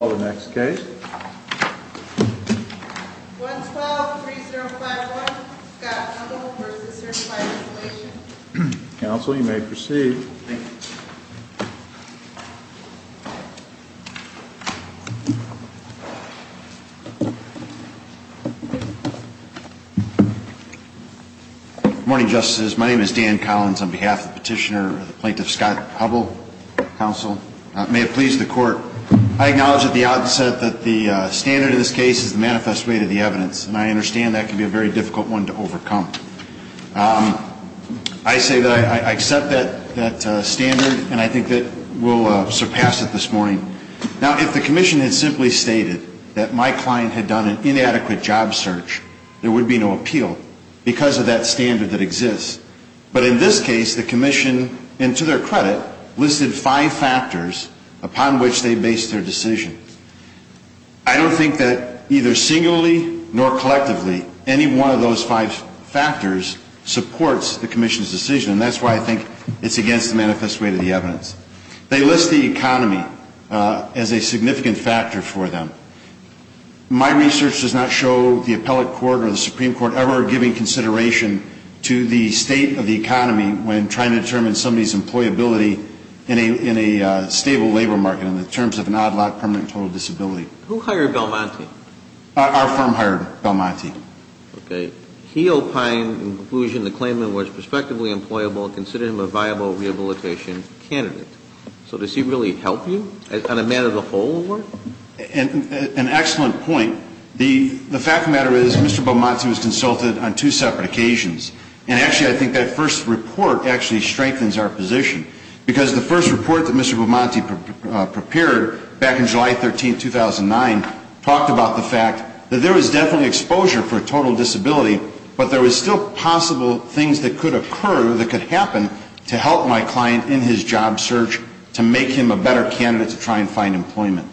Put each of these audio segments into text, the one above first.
123051, Scott Hubbell v. Certified Inquilation Counsel, you may proceed. Good morning, Justices. My name is Dan Collins on behalf of the Petitioner, Plaintiff Scott Hubbell. Counsel, may it please the Court, I acknowledge at the outset that the standard in this case is the manifest weight of the evidence. And I understand that can be a very difficult one to overcome. I say that I accept that standard and I think that we'll surpass it this morning. Now, if the Commission had simply stated that my client had done an inadequate job search, there would be no appeal because of that standard that exists. But in this case, the Commission, and to their credit, listed five factors upon which they based their decision. I don't think that either singularly nor collectively any one of those five factors supports the Commission's decision. And that's why I think it's against the manifest weight of the evidence. They list the economy as a significant factor for them. My research does not show the Appellate Court or the Supreme Court ever giving consideration to the state of the economy when trying to determine somebody's employability in a stable labor market in terms of an odd lot permanent total disability. Who hired Belmonte? Our firm hired Belmonte. Okay. He opined in conclusion the claimant was prospectively employable and considered him a viable rehabilitation candidate. So does he really help you on a matter of the whole? An excellent point. The fact of the matter is Mr. Belmonte was consulted on two separate occasions. And actually, I think that first report actually strengthens our position. Because the first report that Mr. Belmonte prepared back in July 13, 2009, talked about the fact that there was definitely exposure for a total disability, but there was still possible things that could occur, that could happen to help my client in his job search to make him a better candidate to try and find employment.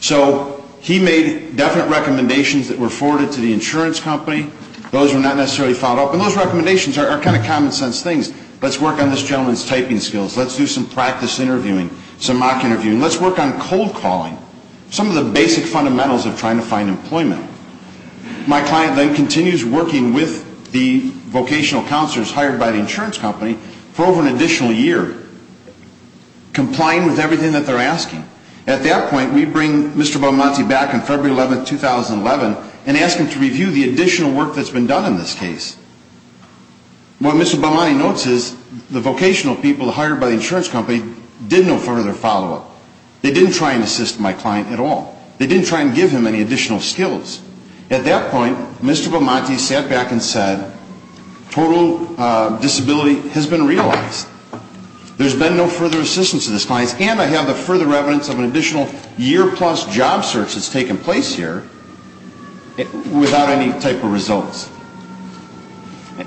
So he made definite recommendations that were forwarded to the insurance company. Those were not necessarily followed up. And those recommendations are kind of common sense things. Let's work on this gentleman's typing skills. Let's do some practice interviewing, some mock interviewing. Let's work on cold calling. Some of the basic fundamentals of trying to find employment. My client then continues working with the vocational counselors hired by the insurance company for over an additional year, complying with everything that they're asking. At that point, we bring Mr. Belmonte back on February 11, 2011, and ask him to review the additional work that's been done in this case. What Mr. Belmonte notes is the vocational people hired by the insurance company did no further follow-up. They didn't try and assist my client at all. They didn't try and give him any additional skills. At that point, Mr. Belmonte sat back and said, total disability has been realized. There's been no further assistance to this client, and I have the further evidence of an additional year-plus job search that's taken place here without any type of results.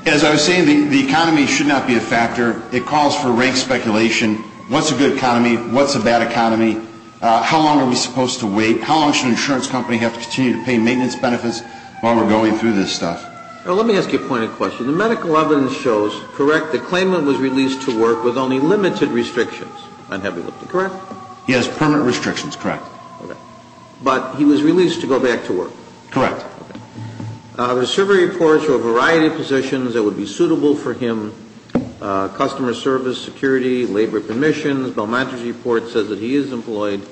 As I was saying, the economy should not be a factor. It calls for rank speculation. What's a good economy? What's a bad economy? How long are we supposed to wait? How long should an insurance company have to continue to pay maintenance benefits while we're going through this stuff? Let me ask you a point of question. The medical evidence shows, correct, the claimant was released to work with only limited restrictions on heavy lifting, correct? Yes, permanent restrictions, correct. Okay. But he was released to go back to work? Correct. Okay. The survey reports show a variety of positions that would be suitable for him, customer service, security, labor permissions. Belmonte's report says that he is employed.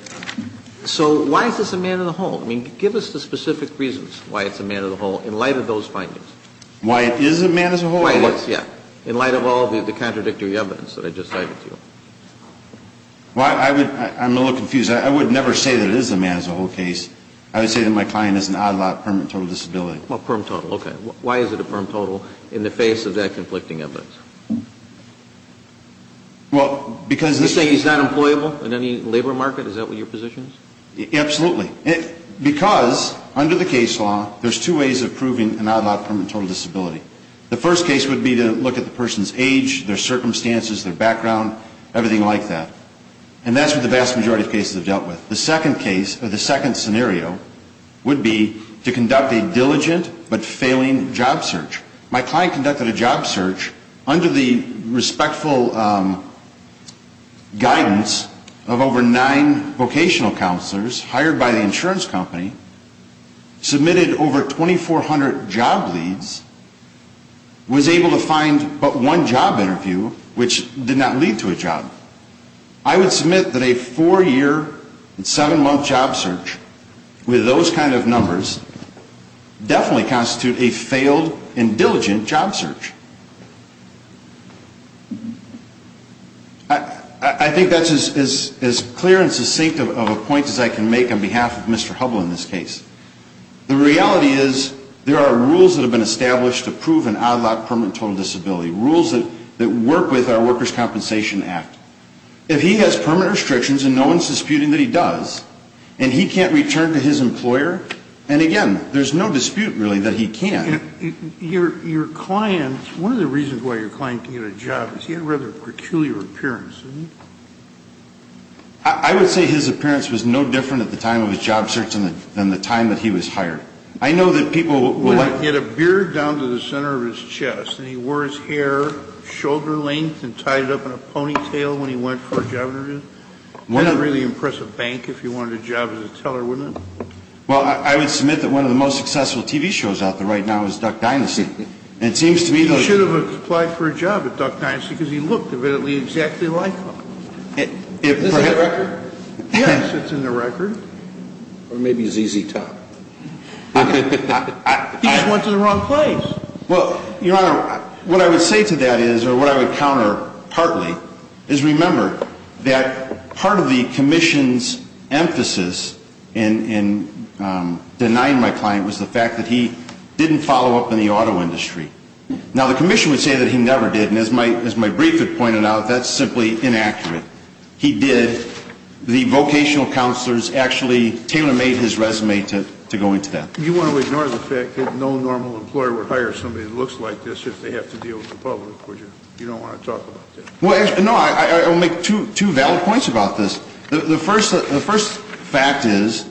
So why is this a man-in-the-hole? I mean, give us the specific reasons why it's a man-in-the-hole in light of those findings. Why it is a man-in-the-hole? Why it is, yeah, in light of all the contradictory evidence that I just cited to you. I'm a little confused. I would never say that it is a man-in-the-hole case. I would say that my client has an odd-lot permanent total disability. Well, permanent total, okay. Why is it a permanent total in the face of that conflicting evidence? Well, because this is not employable in any labor market? Is that what your position is? Absolutely. Because under the case law, there's two ways of proving an odd-lot permanent total disability. The first case would be to look at the person's age, their circumstances, their background, everything like that. And that's what the vast majority of cases have dealt with. The second case or the second scenario would be to conduct a diligent but failing job search. My client conducted a job search under the respectful guidance of over nine vocational counselors hired by the insurance company, submitted over 2,400 job leads, was able to find but one job interview which did not lead to a job. I would submit that a four-year and seven-month job search with those kind of numbers definitely constitute a failed and diligent job search. I think that's as clear and succinct of a point as I can make on behalf of Mr. Hubbell in this case. The reality is there are rules that have been established to prove an odd-lot permanent total disability, rules that work with our Workers' Compensation Act. If he has permanent restrictions and no one's disputing that he does, and he can't return to his employer, and again, there's no dispute really that he can't. Your client, one of the reasons why your client can get a job is he had a rather peculiar appearance, didn't he? I would say his appearance was no different at the time of his job search than the time that he was hired. I know that people like... He had a beard down to the center of his chest, and he wore his hair shoulder-length and tied it up in a ponytail when he went for a job interview. That's a really impressive bank if you wanted a job as a teller, wouldn't it? Well, I would submit that one of the most successful TV shows out there right now is Duck Dynasty. And it seems to me those... He should have applied for a job at Duck Dynasty because he looked evidently exactly like him. Is this in the record? Yes, it's in the record. Or maybe ZZ Top. He just went to the wrong place. Well, Your Honor, what I would say to that is, or what I would counter partly, is remember that part of the commission's emphasis in denying my client was the fact that he didn't follow up in the auto industry. Now, the commission would say that he never did, and as my brief had pointed out, that's simply inaccurate. He did. The vocational counselors actually tailor-made his resume to go into that. You want to ignore the fact that no normal employer would hire somebody that looks like this if they have to deal with the public, would you? You don't want to talk about that. Well, no, I'll make two valid points about this. The first fact is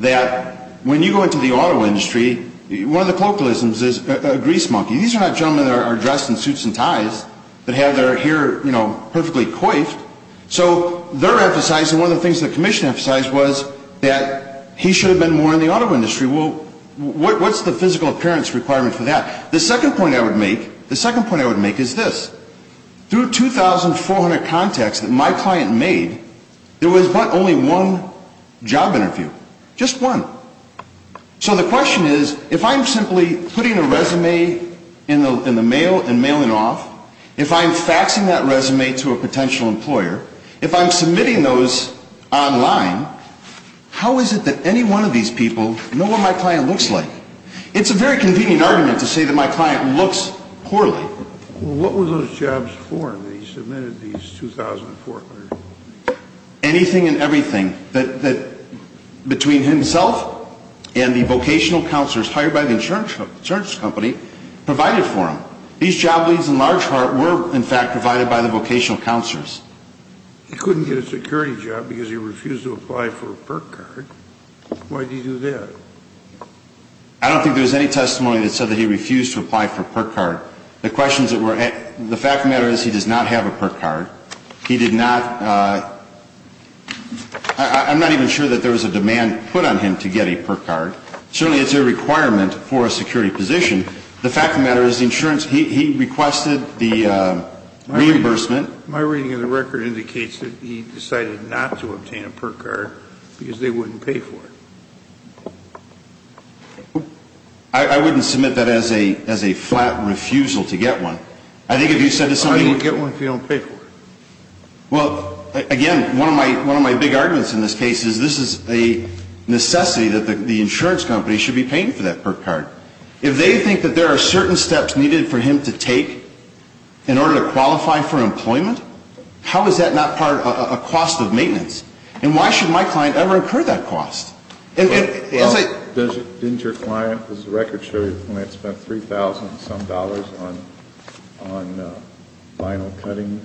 that when you go into the auto industry, one of the colloquialisms is a grease monkey. These are not gentlemen that are dressed in suits and ties that have their hair, you know, perfectly coiffed. So they're emphasizing, one of the things the commission emphasized was that he should have been more in the auto industry. Well, what's the physical appearance requirement for that? The second point I would make, the second point I would make is this. Through 2,400 contacts that my client made, there was but only one job interview, just one. So the question is, if I'm simply putting a resume in the mail and mailing off, if I'm faxing that resume to a potential employer, if I'm submitting those online, how is it that any one of these people know what my client looks like? It's a very convenient argument to say that my client looks poorly. Well, what were those jobs for that he submitted these 2,400? Anything and everything that between himself and the vocational counselors hired by the insurance company provided for him. These job leads in large part were, in fact, provided by the vocational counselors. He couldn't get a security job because he refused to apply for a PERC card. Why did he do that? I don't think there was any testimony that said that he refused to apply for a PERC card. The fact of the matter is he does not have a PERC card. He did not, I'm not even sure that there was a demand put on him to get a PERC card. Certainly it's a requirement for a security position. The fact of the matter is the insurance, he requested the reimbursement. My reading of the record indicates that he decided not to obtain a PERC card because they wouldn't pay for it. I wouldn't submit that as a flat refusal to get one. I think if you said to somebody... I would get one if you don't pay for it. Well, again, one of my big arguments in this case is this is a necessity that the insurance company should be paying for that PERC card. If they think that there are certain steps needed for him to take in order to qualify for employment, how is that not part of a cost of maintenance? And why should my client ever incur that cost? Didn't your client, does the record show you that the client spent $3,000 and some dollars on vinyl cutting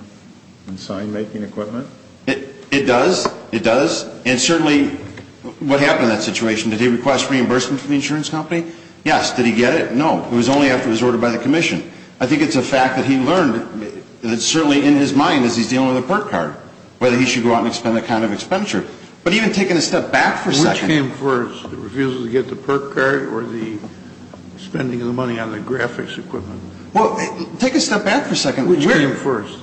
and sign making equipment? It does, it does. And certainly what happened in that situation, did he request reimbursement from the insurance company? Yes. Did he get it? No. It was only after it was ordered by the commission. I think it's a fact that he learned, and it's certainly in his mind as he's dealing with a PERC card, whether he should go out and expend the kind of expenditure. But even taking a step back for a second. Which came first, the refusal to get the PERC card or the spending of the money on the graphics equipment? Well, take a step back for a second. Which came first?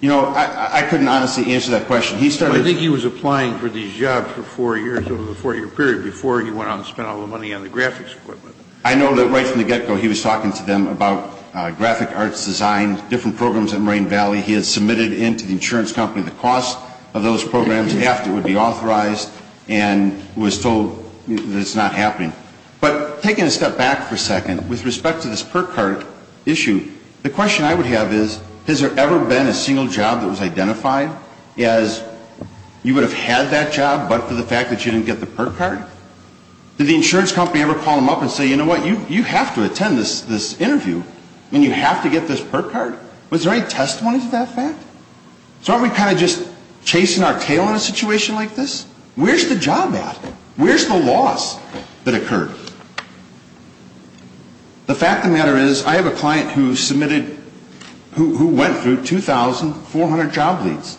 You know, I couldn't honestly answer that question. I think he was applying for these jobs for four years over the four-year period before he went out and spent all the money on the graphics equipment. I know that right from the get-go he was talking to them about graphic arts design, different programs at Moraine Valley. He had submitted into the insurance company the cost of those programs after it would be authorized and was told that it's not happening. But taking a step back for a second, with respect to this PERC card issue, the question I would have is, has there ever been a single job that was identified as you would have had that job but for the fact that you didn't get the PERC card? Did the insurance company ever call him up and say, you know what, you have to attend this interview and you have to get this PERC card? Was there any testimony to that fact? So aren't we kind of just chasing our tail in a situation like this? Where's the job at? Where's the loss that occurred? The fact of the matter is, I have a client who submitted, who went through 2,400 job leads.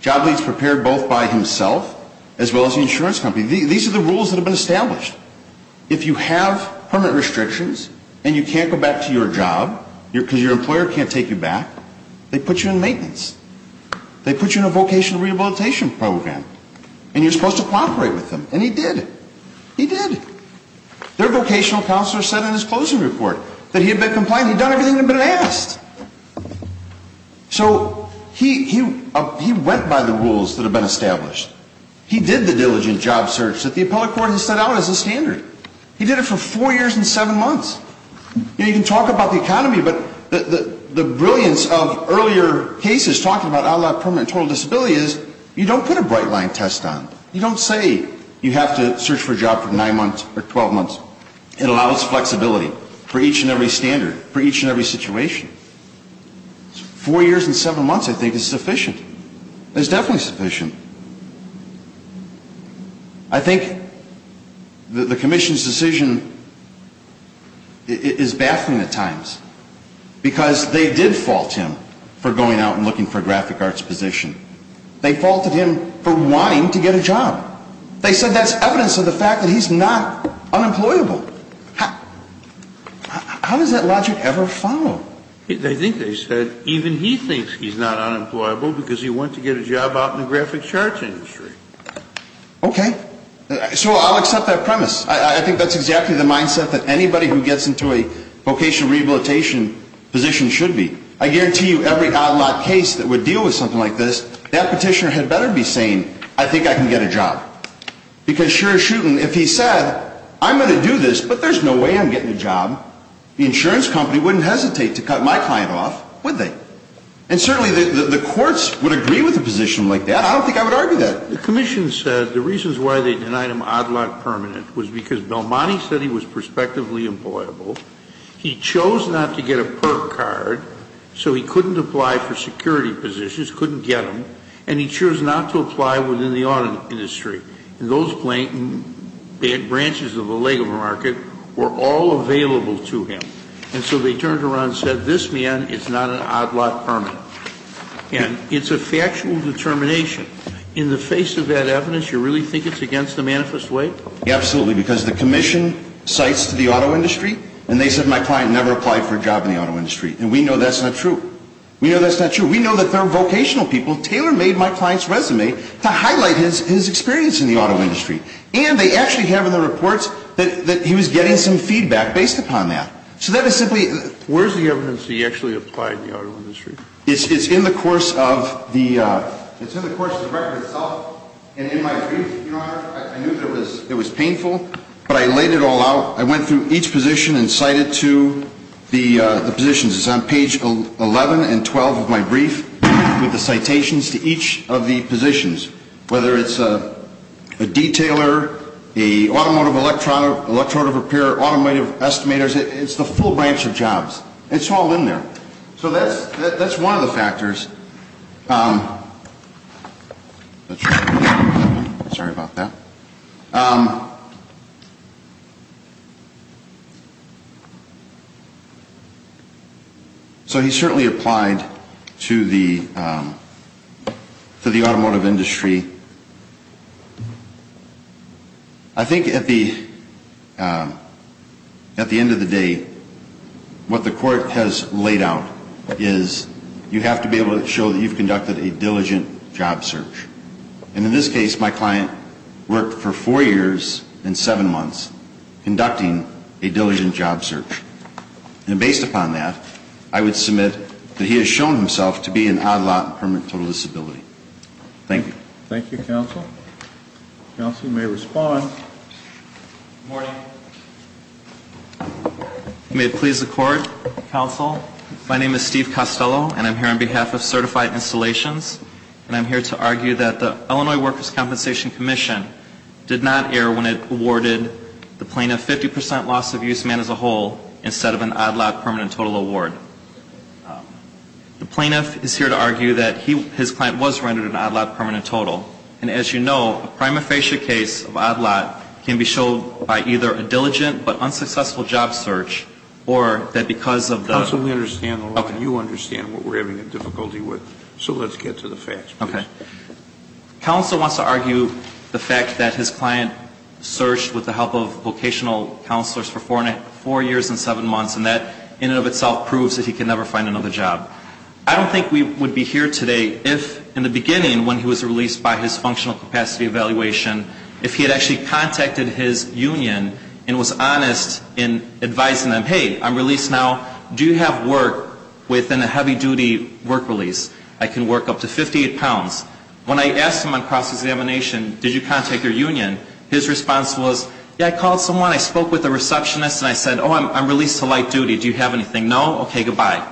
Job leads prepared both by himself as well as the insurance company. These are the rules that have been established. If you have permit restrictions and you can't go back to your job because your employer can't take you back, they put you in maintenance. They put you in a vocational rehabilitation program. And you're supposed to cooperate with them. And he did. He did. Their vocational counselor said in his closing report that he had been complying, he'd done everything that had been asked. So he went by the rules that have been established. He did the diligent job search that the appellate court has set out as the standard. He did it for four years and seven months. You can talk about the economy, but the brilliance of earlier cases talking about outlawed permanent and total disability is you don't put a bright line test on. You don't say you have to search for a job for nine months or 12 months. It allows flexibility for each and every standard, for each and every situation. Four years and seven months, I think, is sufficient. It's definitely sufficient. I think the commission's decision is baffling at times because they did fault him for going out and looking for a graphic arts position. They faulted him for wanting to get a job. They said that's evidence of the fact that he's not unemployable. How does that logic ever follow? I think they said even he thinks he's not unemployable because he went to get a job out in the graphic charts industry. Okay. So I'll accept that premise. I think that's exactly the mindset that anybody who gets into a vocational rehabilitation position should be. I guarantee you every outlawed case that would deal with something like this, that petitioner had better be saying, I think I can get a job. Because sure as shooting, if he said, I'm going to do this, but there's no way I'm getting a job, the insurance company wouldn't hesitate to cut my client off, would they? And certainly the courts would agree with a position like that. I don't think I would argue that. The commission said the reasons why they denied him odd lot permanent was because Belmonte said he was prospectively employable. He chose not to get a PERC card, so he couldn't apply for security positions, couldn't get them. And he chose not to apply within the auto industry. And those branches of the leg of the market were all available to him. And so they turned around and said, this man is not an odd lot permanent. And it's a factual determination. In the face of that evidence, you really think it's against the manifest way? Absolutely. Because the commission cites the auto industry, and they said my client never applied for a job in the auto industry. We know that's not true. Taylor made my client's resume to highlight his experience in the auto industry. And they actually have in the reports that he was getting some feedback based upon that. So that is simply... Where is the evidence that he actually applied in the auto industry? It's in the course of the record itself and in my brief, Your Honor. I knew that it was painful, but I laid it all out. I went through each position and cited to the positions. It's on page 11 and 12 of my brief with the citations to each of the positions. Whether it's a detailer, a automotive electronic, electronic repair, automotive estimators, it's the full branch of jobs. It's all in there. So that's one of the factors. Sorry about that. So he certainly applied to the automotive industry. I think at the end of the day, what the court has laid out is you have to be able to show that you've conducted a diligent job search. And in this case, my client worked for four years and seven months conducting a diligent job search. And based upon that, I would submit that he has shown himself to be an odd lot in permanent total disability. Thank you. Thank you, counsel. Counsel may respond. Good morning. May it please the court, counsel. My name is Steve Costello, and I'm here on behalf of Certified Installations. And I'm here to argue that the Illinois Workers' Compensation Commission did not err when it awarded the plaintiff 50 percent loss of use, man as a whole, instead of an odd lot permanent total award. The plaintiff is here to argue that his client was rendered an odd lot permanent total. And as you know, a prima facie case of odd lot can be showed by either a diligent but unsuccessful job search or that because of the – Counsel, we understand the law, and you understand what we're having difficulty with. So let's get to the facts, please. Okay. Counsel wants to argue the fact that his client searched with the help of vocational counselors for four years and seven months, and that in and of itself proves that he can never find another job. I don't think we would be here today if, in the beginning, when he was released by his functional capacity evaluation, if he had actually contacted his union and was honest in advising them, hey, I'm released now, do you have work within a heavy-duty work release? I can work up to 58 pounds. When I asked him on cross-examination, did you contact your union, his response was, yeah, I called someone, I spoke with the receptionist, and I said, oh, I'm released to light duty. Do you have anything? No? Okay, goodbye.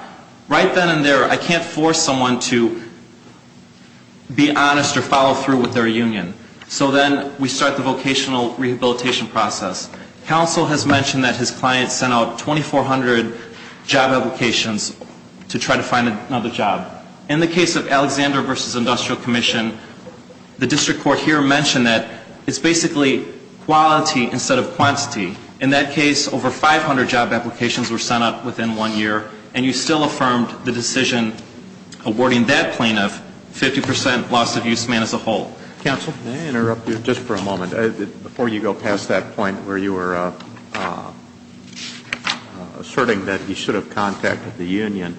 Right then and there, I can't force someone to be honest or follow through with their union. So then we start the vocational rehabilitation process. Counsel has mentioned that his client sent out 2,400 job applications to try to find another job. In the case of Alexander v. Industrial Commission, the district court here mentioned that it's basically quality instead of quantity. In that case, over 500 job applications were sent out within one year, and you still affirmed the decision awarding that plaintiff 50 percent loss of use man as a whole. Counsel? May I interrupt you just for a moment? Before you go past that point where you were asserting that he should have contacted the union,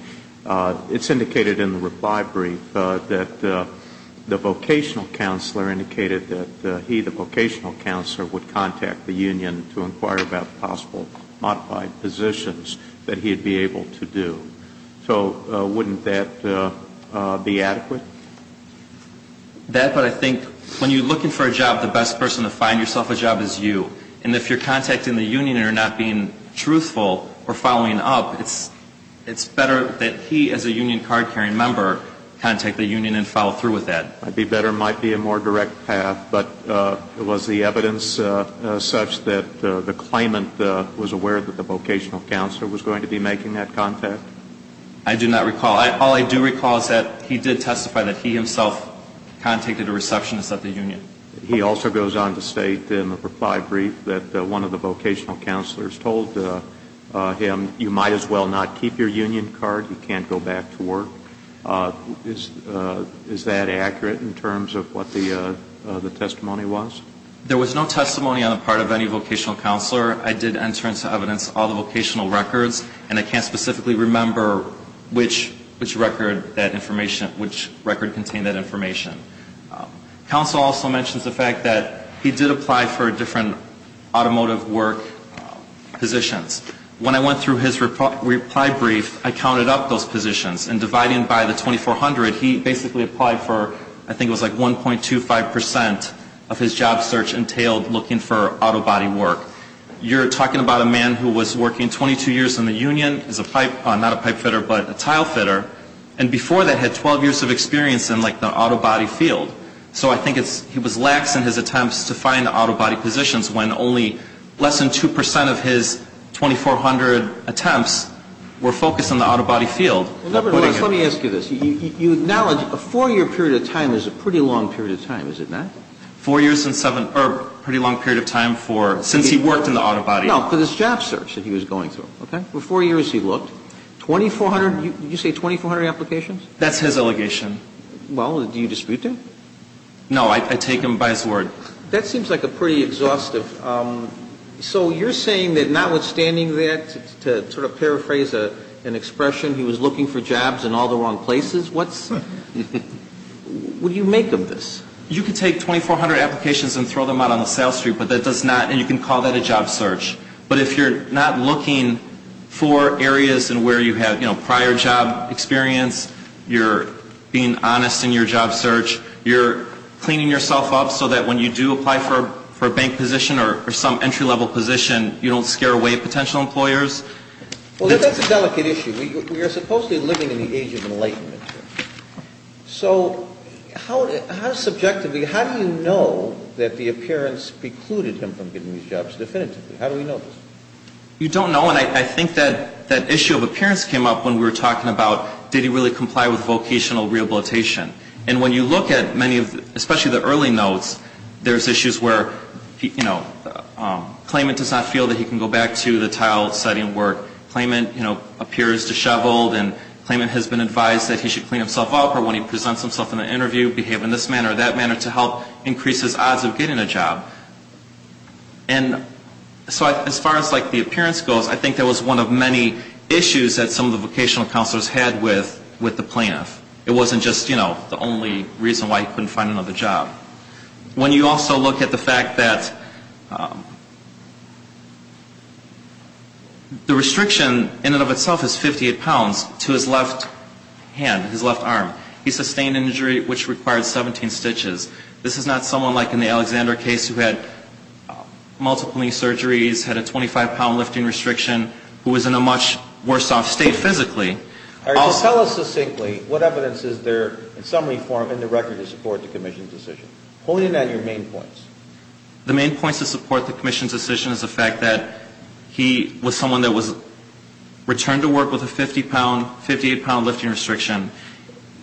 it's indicated in the reply brief that the vocational counselor indicated that he, the vocational counselor, would contact the union to inquire about possible modified positions that he would be able to do. So wouldn't that be adequate? That, but I think when you're looking for a job, the best person to find yourself a job is you. And if you're contacting the union and are not being truthful or following up, it's better that he as a union card-carrying member contact the union and follow through with that. Might be better, might be a more direct path. But was the evidence such that the claimant was aware that the vocational counselor was going to be making that contact? I do not recall. All I do recall is that he did testify that he himself contacted a receptionist at the union. He also goes on to state in the reply brief that one of the vocational counselors told him, you might as well not keep your union card, you can't go back to work. Is that accurate in terms of what the testimony was? There was no testimony on the part of any vocational counselor. I did enter into evidence all the vocational records, and I can't specifically remember which record contained that information. Counsel also mentions the fact that he did apply for different automotive work positions. When I went through his reply brief, I counted up those positions, and dividing by the 2400, he basically applied for, I think it was like 1.25 percent of his job search entailed looking for auto body work. You're talking about a man who was working 22 years in the union as a pipe, not a pipe fitter, but a tile fitter, and before that had 12 years of experience in like the auto body field. So I think he was lax in his attempts to find auto body positions when only less than 2 percent of his 2400 attempts were focused on the auto body field. Let me ask you this. You acknowledge a four-year period of time is a pretty long period of time, is it not? Four years and seven, or a pretty long period of time for, since he worked in the auto body. No, because it's job search that he was going through, okay? For four years he looked. 2400, did you say 2400 applications? That's his allegation. Well, do you dispute that? No, I take him by his word. That seems like a pretty exhaustive. So you're saying that notwithstanding that, to sort of paraphrase an expression, he was looking for jobs in all the wrong places? What's, what do you make of this? You can take 2400 applications and throw them out on the sales street, but that does not, and you can call that a job search. But if you're not looking for areas in where you have, you know, prior job experience, you're being honest in your job search, you're cleaning yourself up so that when you do apply for a bank position or some entry-level position, you don't scare away potential employers? Well, that's a delicate issue. We are supposedly living in the age of enlightenment. So how subjectively, how do you know that the appearance precluded him from getting these jobs definitively? How do we know this? You don't know, and I think that issue of appearance came up when we were talking about did he really comply with vocational rehabilitation. And when you look at many of the, especially the early notes, there's issues where, you know, claimant does not feel that he can go back to the tile setting where claimant, you know, appears disheveled, and claimant has been advised that he should clean himself up, or when he presents himself in an interview behave in this manner or that manner to help increase his odds of getting a job. And so as far as, like, the appearance goes, I think that was one of many issues that some of the vocational counselors had with the plaintiff. It wasn't just, you know, the only reason why he couldn't find another job. When you also look at the fact that the restriction in and of itself is 58 pounds, to his left hand, his left arm, he sustained an injury which required 17 stitches. This is not someone like in the Alexander case who had multiple knee surgeries, had a 25-pound lifting restriction, who was in a much worse off state physically. All right. So tell us succinctly what evidence is there in summary form in the record to support the commission's decision? Pointing at your main points. The main points to support the commission's decision is the fact that he was someone that was returned to work with a 58-pound lifting restriction.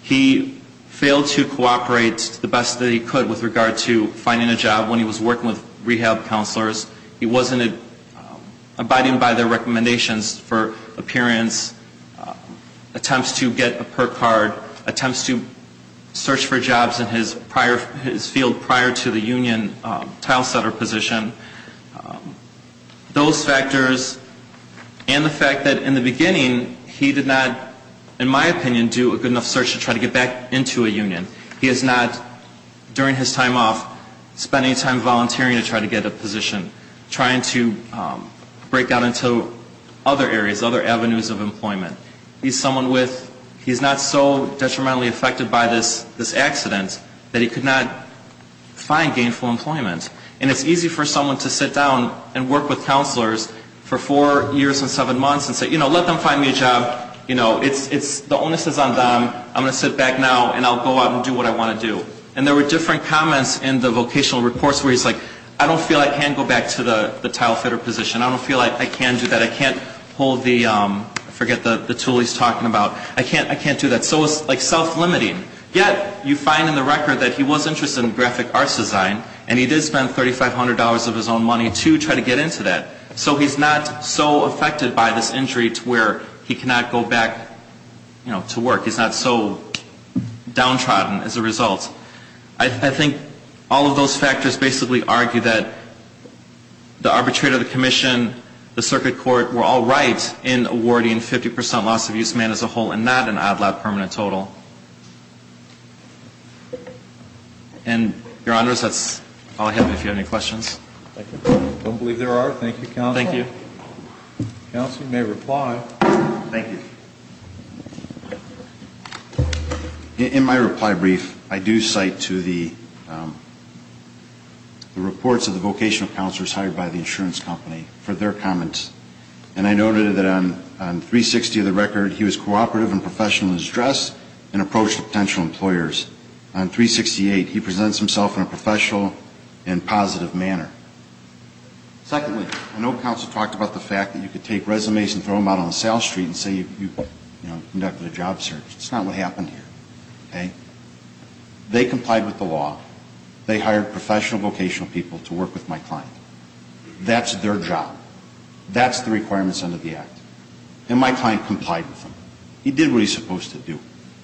He failed to cooperate the best that he could with regard to finding a job when he was working with rehab counselors. He wasn't abiding by their recommendations for appearance, attempts to get a perk card, attempts to search for jobs in his field prior to the union tilesetter position. Those factors and the fact that in the beginning he did not, in my opinion, do a good enough search to try to get back into a union. He has not, during his time off, spent any time volunteering to try to get a position, trying to break out into other areas, other avenues of employment. He's someone with, he's not so detrimentally affected by this accident that he could not find gainful employment. And it's easy for someone to sit down and work with counselors for four years and seven months and say, you know, let them find me a job. You know, the onus is on them. I'm going to sit back now and I'll go out and do what I want to do. And there were different comments in the vocational reports where he's like, I don't feel I can go back to the tilesetter position. I don't feel like I can do that. I can't hold the, I forget the tool he's talking about. I can't do that. So it's like self-limiting. Yet you find in the record that he was interested in graphic arts design and he did spend $3,500 of his own money to try to get into that. So he's not so affected by this injury to where he cannot go back, you know, to work. He's not so downtrodden as a result. I think all of those factors basically argue that the arbitrator, the commission, the circuit court were all right in awarding 50% loss of use man as a whole and not an odd, loud permanent total. And, Your Honors, that's all I have if you have any questions. I don't believe there are. Thank you, Counselor. Thank you. Counselor, you may reply. Thank you. In my reply brief, I do cite to the reports of the vocational counselors hired by the insurance company for their comments. And I noted that on 360 of the record, he was cooperative and professional in his dress and approach to potential employers. On 368, he presents himself in a professional and positive manner. Secondly, I know Counselor talked about the fact that you could take resumes and throw them out on the South Street and say you, you know, conducted a job search. That's not what happened here, okay? They complied with the law. They hired professional vocational people to work with my client. That's their job. That's the requirements under the Act. And my client complied with them. He did what he's supposed to do.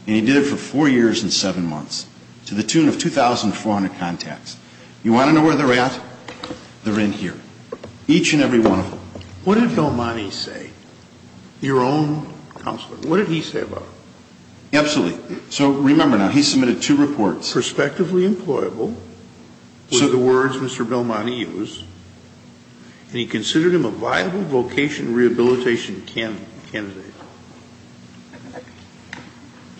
And he did it for four years and seven months to the tune of 2,400 contacts. You want to know where they're at? They're in here, each and every one of them. What did Belmonte say, your own counselor? What did he say about it? Absolutely. So, remember now, he submitted two reports. Perspectively employable were the words Mr. Belmonte used. And he considered him a viable vocation rehabilitation candidate.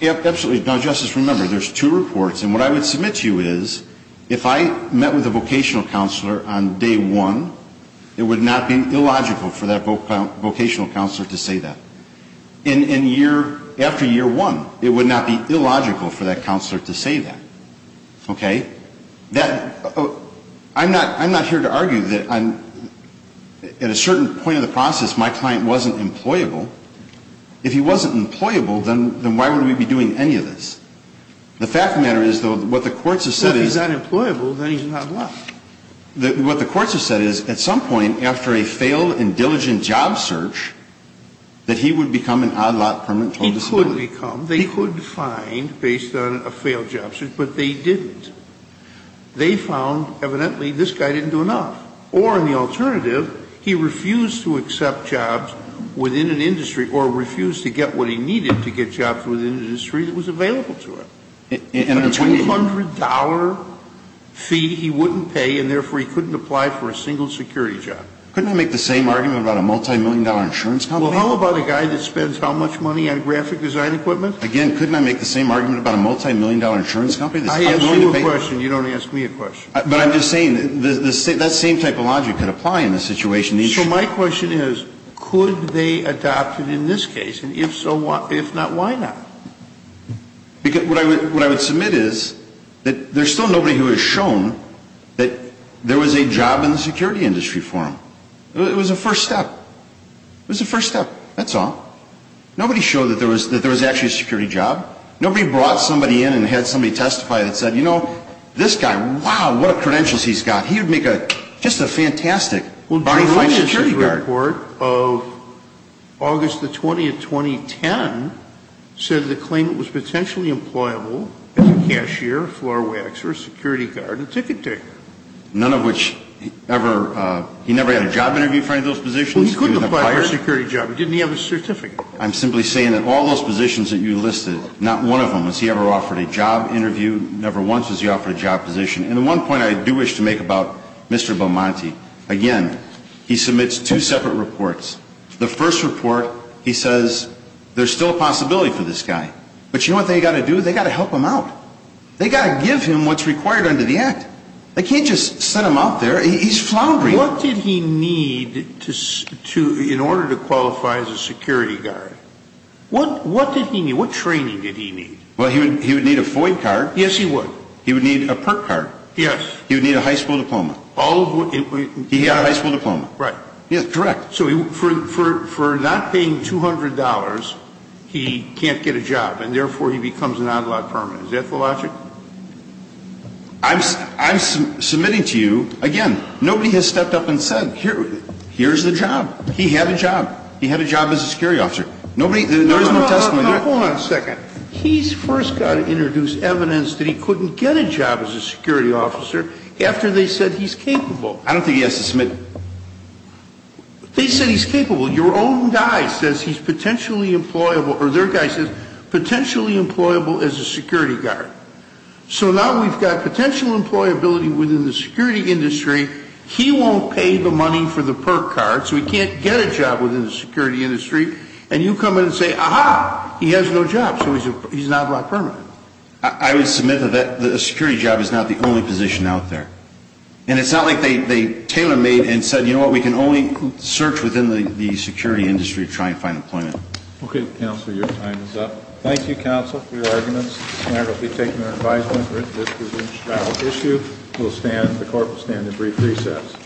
Absolutely. Now, Justice, remember, there's two reports. And what I would submit to you is if I met with a vocational counselor on day one, it would not be illogical for that vocational counselor to say that. And year after year one, it would not be illogical for that counselor to say that. Okay? I'm not here to argue that at a certain point in the process my client wasn't employable. If he wasn't employable, then why would we be doing any of this? The fact of the matter is, though, what the courts have said is at some point after a failed and diligent job search that he would become an odd lot permanent total disability. He could become. They could find based on a failed job search, but they didn't. They found evidently this guy didn't do enough. Or in the alternative, he refused to accept jobs within an industry or refused to get what he needed to get jobs within an industry that was available to him. And a $200 fee he wouldn't pay, and therefore he couldn't apply for a single security job. Couldn't I make the same argument about a multimillion-dollar insurance company? Well, how about a guy that spends how much money on graphic design equipment? Again, couldn't I make the same argument about a multimillion-dollar insurance company? I asked you a question. You don't ask me a question. But I'm just saying that same type of logic could apply in this situation. So my question is, could they adopt it in this case? And if so, if not, why not? What I would submit is that there's still nobody who has shown that there was a job in the security industry for him. It was a first step. It was a first step. That's all. Nobody showed that there was actually a security job. Nobody brought somebody in and had somebody testify that said, you know, this guy, wow, what a credentials he's got. He would make just a fantastic body-finding security guard. The Court of August the 20th, 2010, said that the claimant was potentially employable as a cashier, floor waxer, security guard, and ticket taker. None of which ever he never had a job interview for any of those positions? He couldn't apply for a security job. Didn't he have a certificate? I'm simply saying that all those positions that you listed, not one of them has he ever offered a job interview, never once has he offered a job position. And the one point I do wish to make about Mr. Belmonte, again, he submits two separate reports. The first report, he says there's still a possibility for this guy. But you know what they've got to do? They've got to help him out. They've got to give him what's required under the Act. They can't just send him out there. He's floundering. What did he need in order to qualify as a security guard? What did he need? What training did he need? Well, he would need a FOID card. Yes, he would. He would need a PERT card. Yes. He would need a high school diploma. He had a high school diploma. Right. Yes, correct. So for not paying $200, he can't get a job. And therefore, he becomes an on-lot permanent. Is that the logic? I'm submitting to you, again, nobody has stepped up and said, here's the job. He had a job. He had a job as a security officer. There is no testimony to that. Hold on a second. He's first got to introduce evidence that he couldn't get a job as a security officer after they said he's capable. I don't think he has to submit. They said he's capable. Your own guy says he's potentially employable, or their guy says potentially employable as a security guard. So now we've got potential employability within the security industry. He won't pay the money for the PERT card, so he can't get a job within the security industry. And you come in and say, aha, he has no job, so he's an on-lot permanent. I would submit that a security job is not the only position out there. And it's not like they tailor-made and said, you know what, we can only search within the security industry to try and find employment. Okay, Counselor, your time is up. Thank you, Counselor, for your arguments. The Senator will be taking your advisement. This is an issue. The Court will stand in brief recess.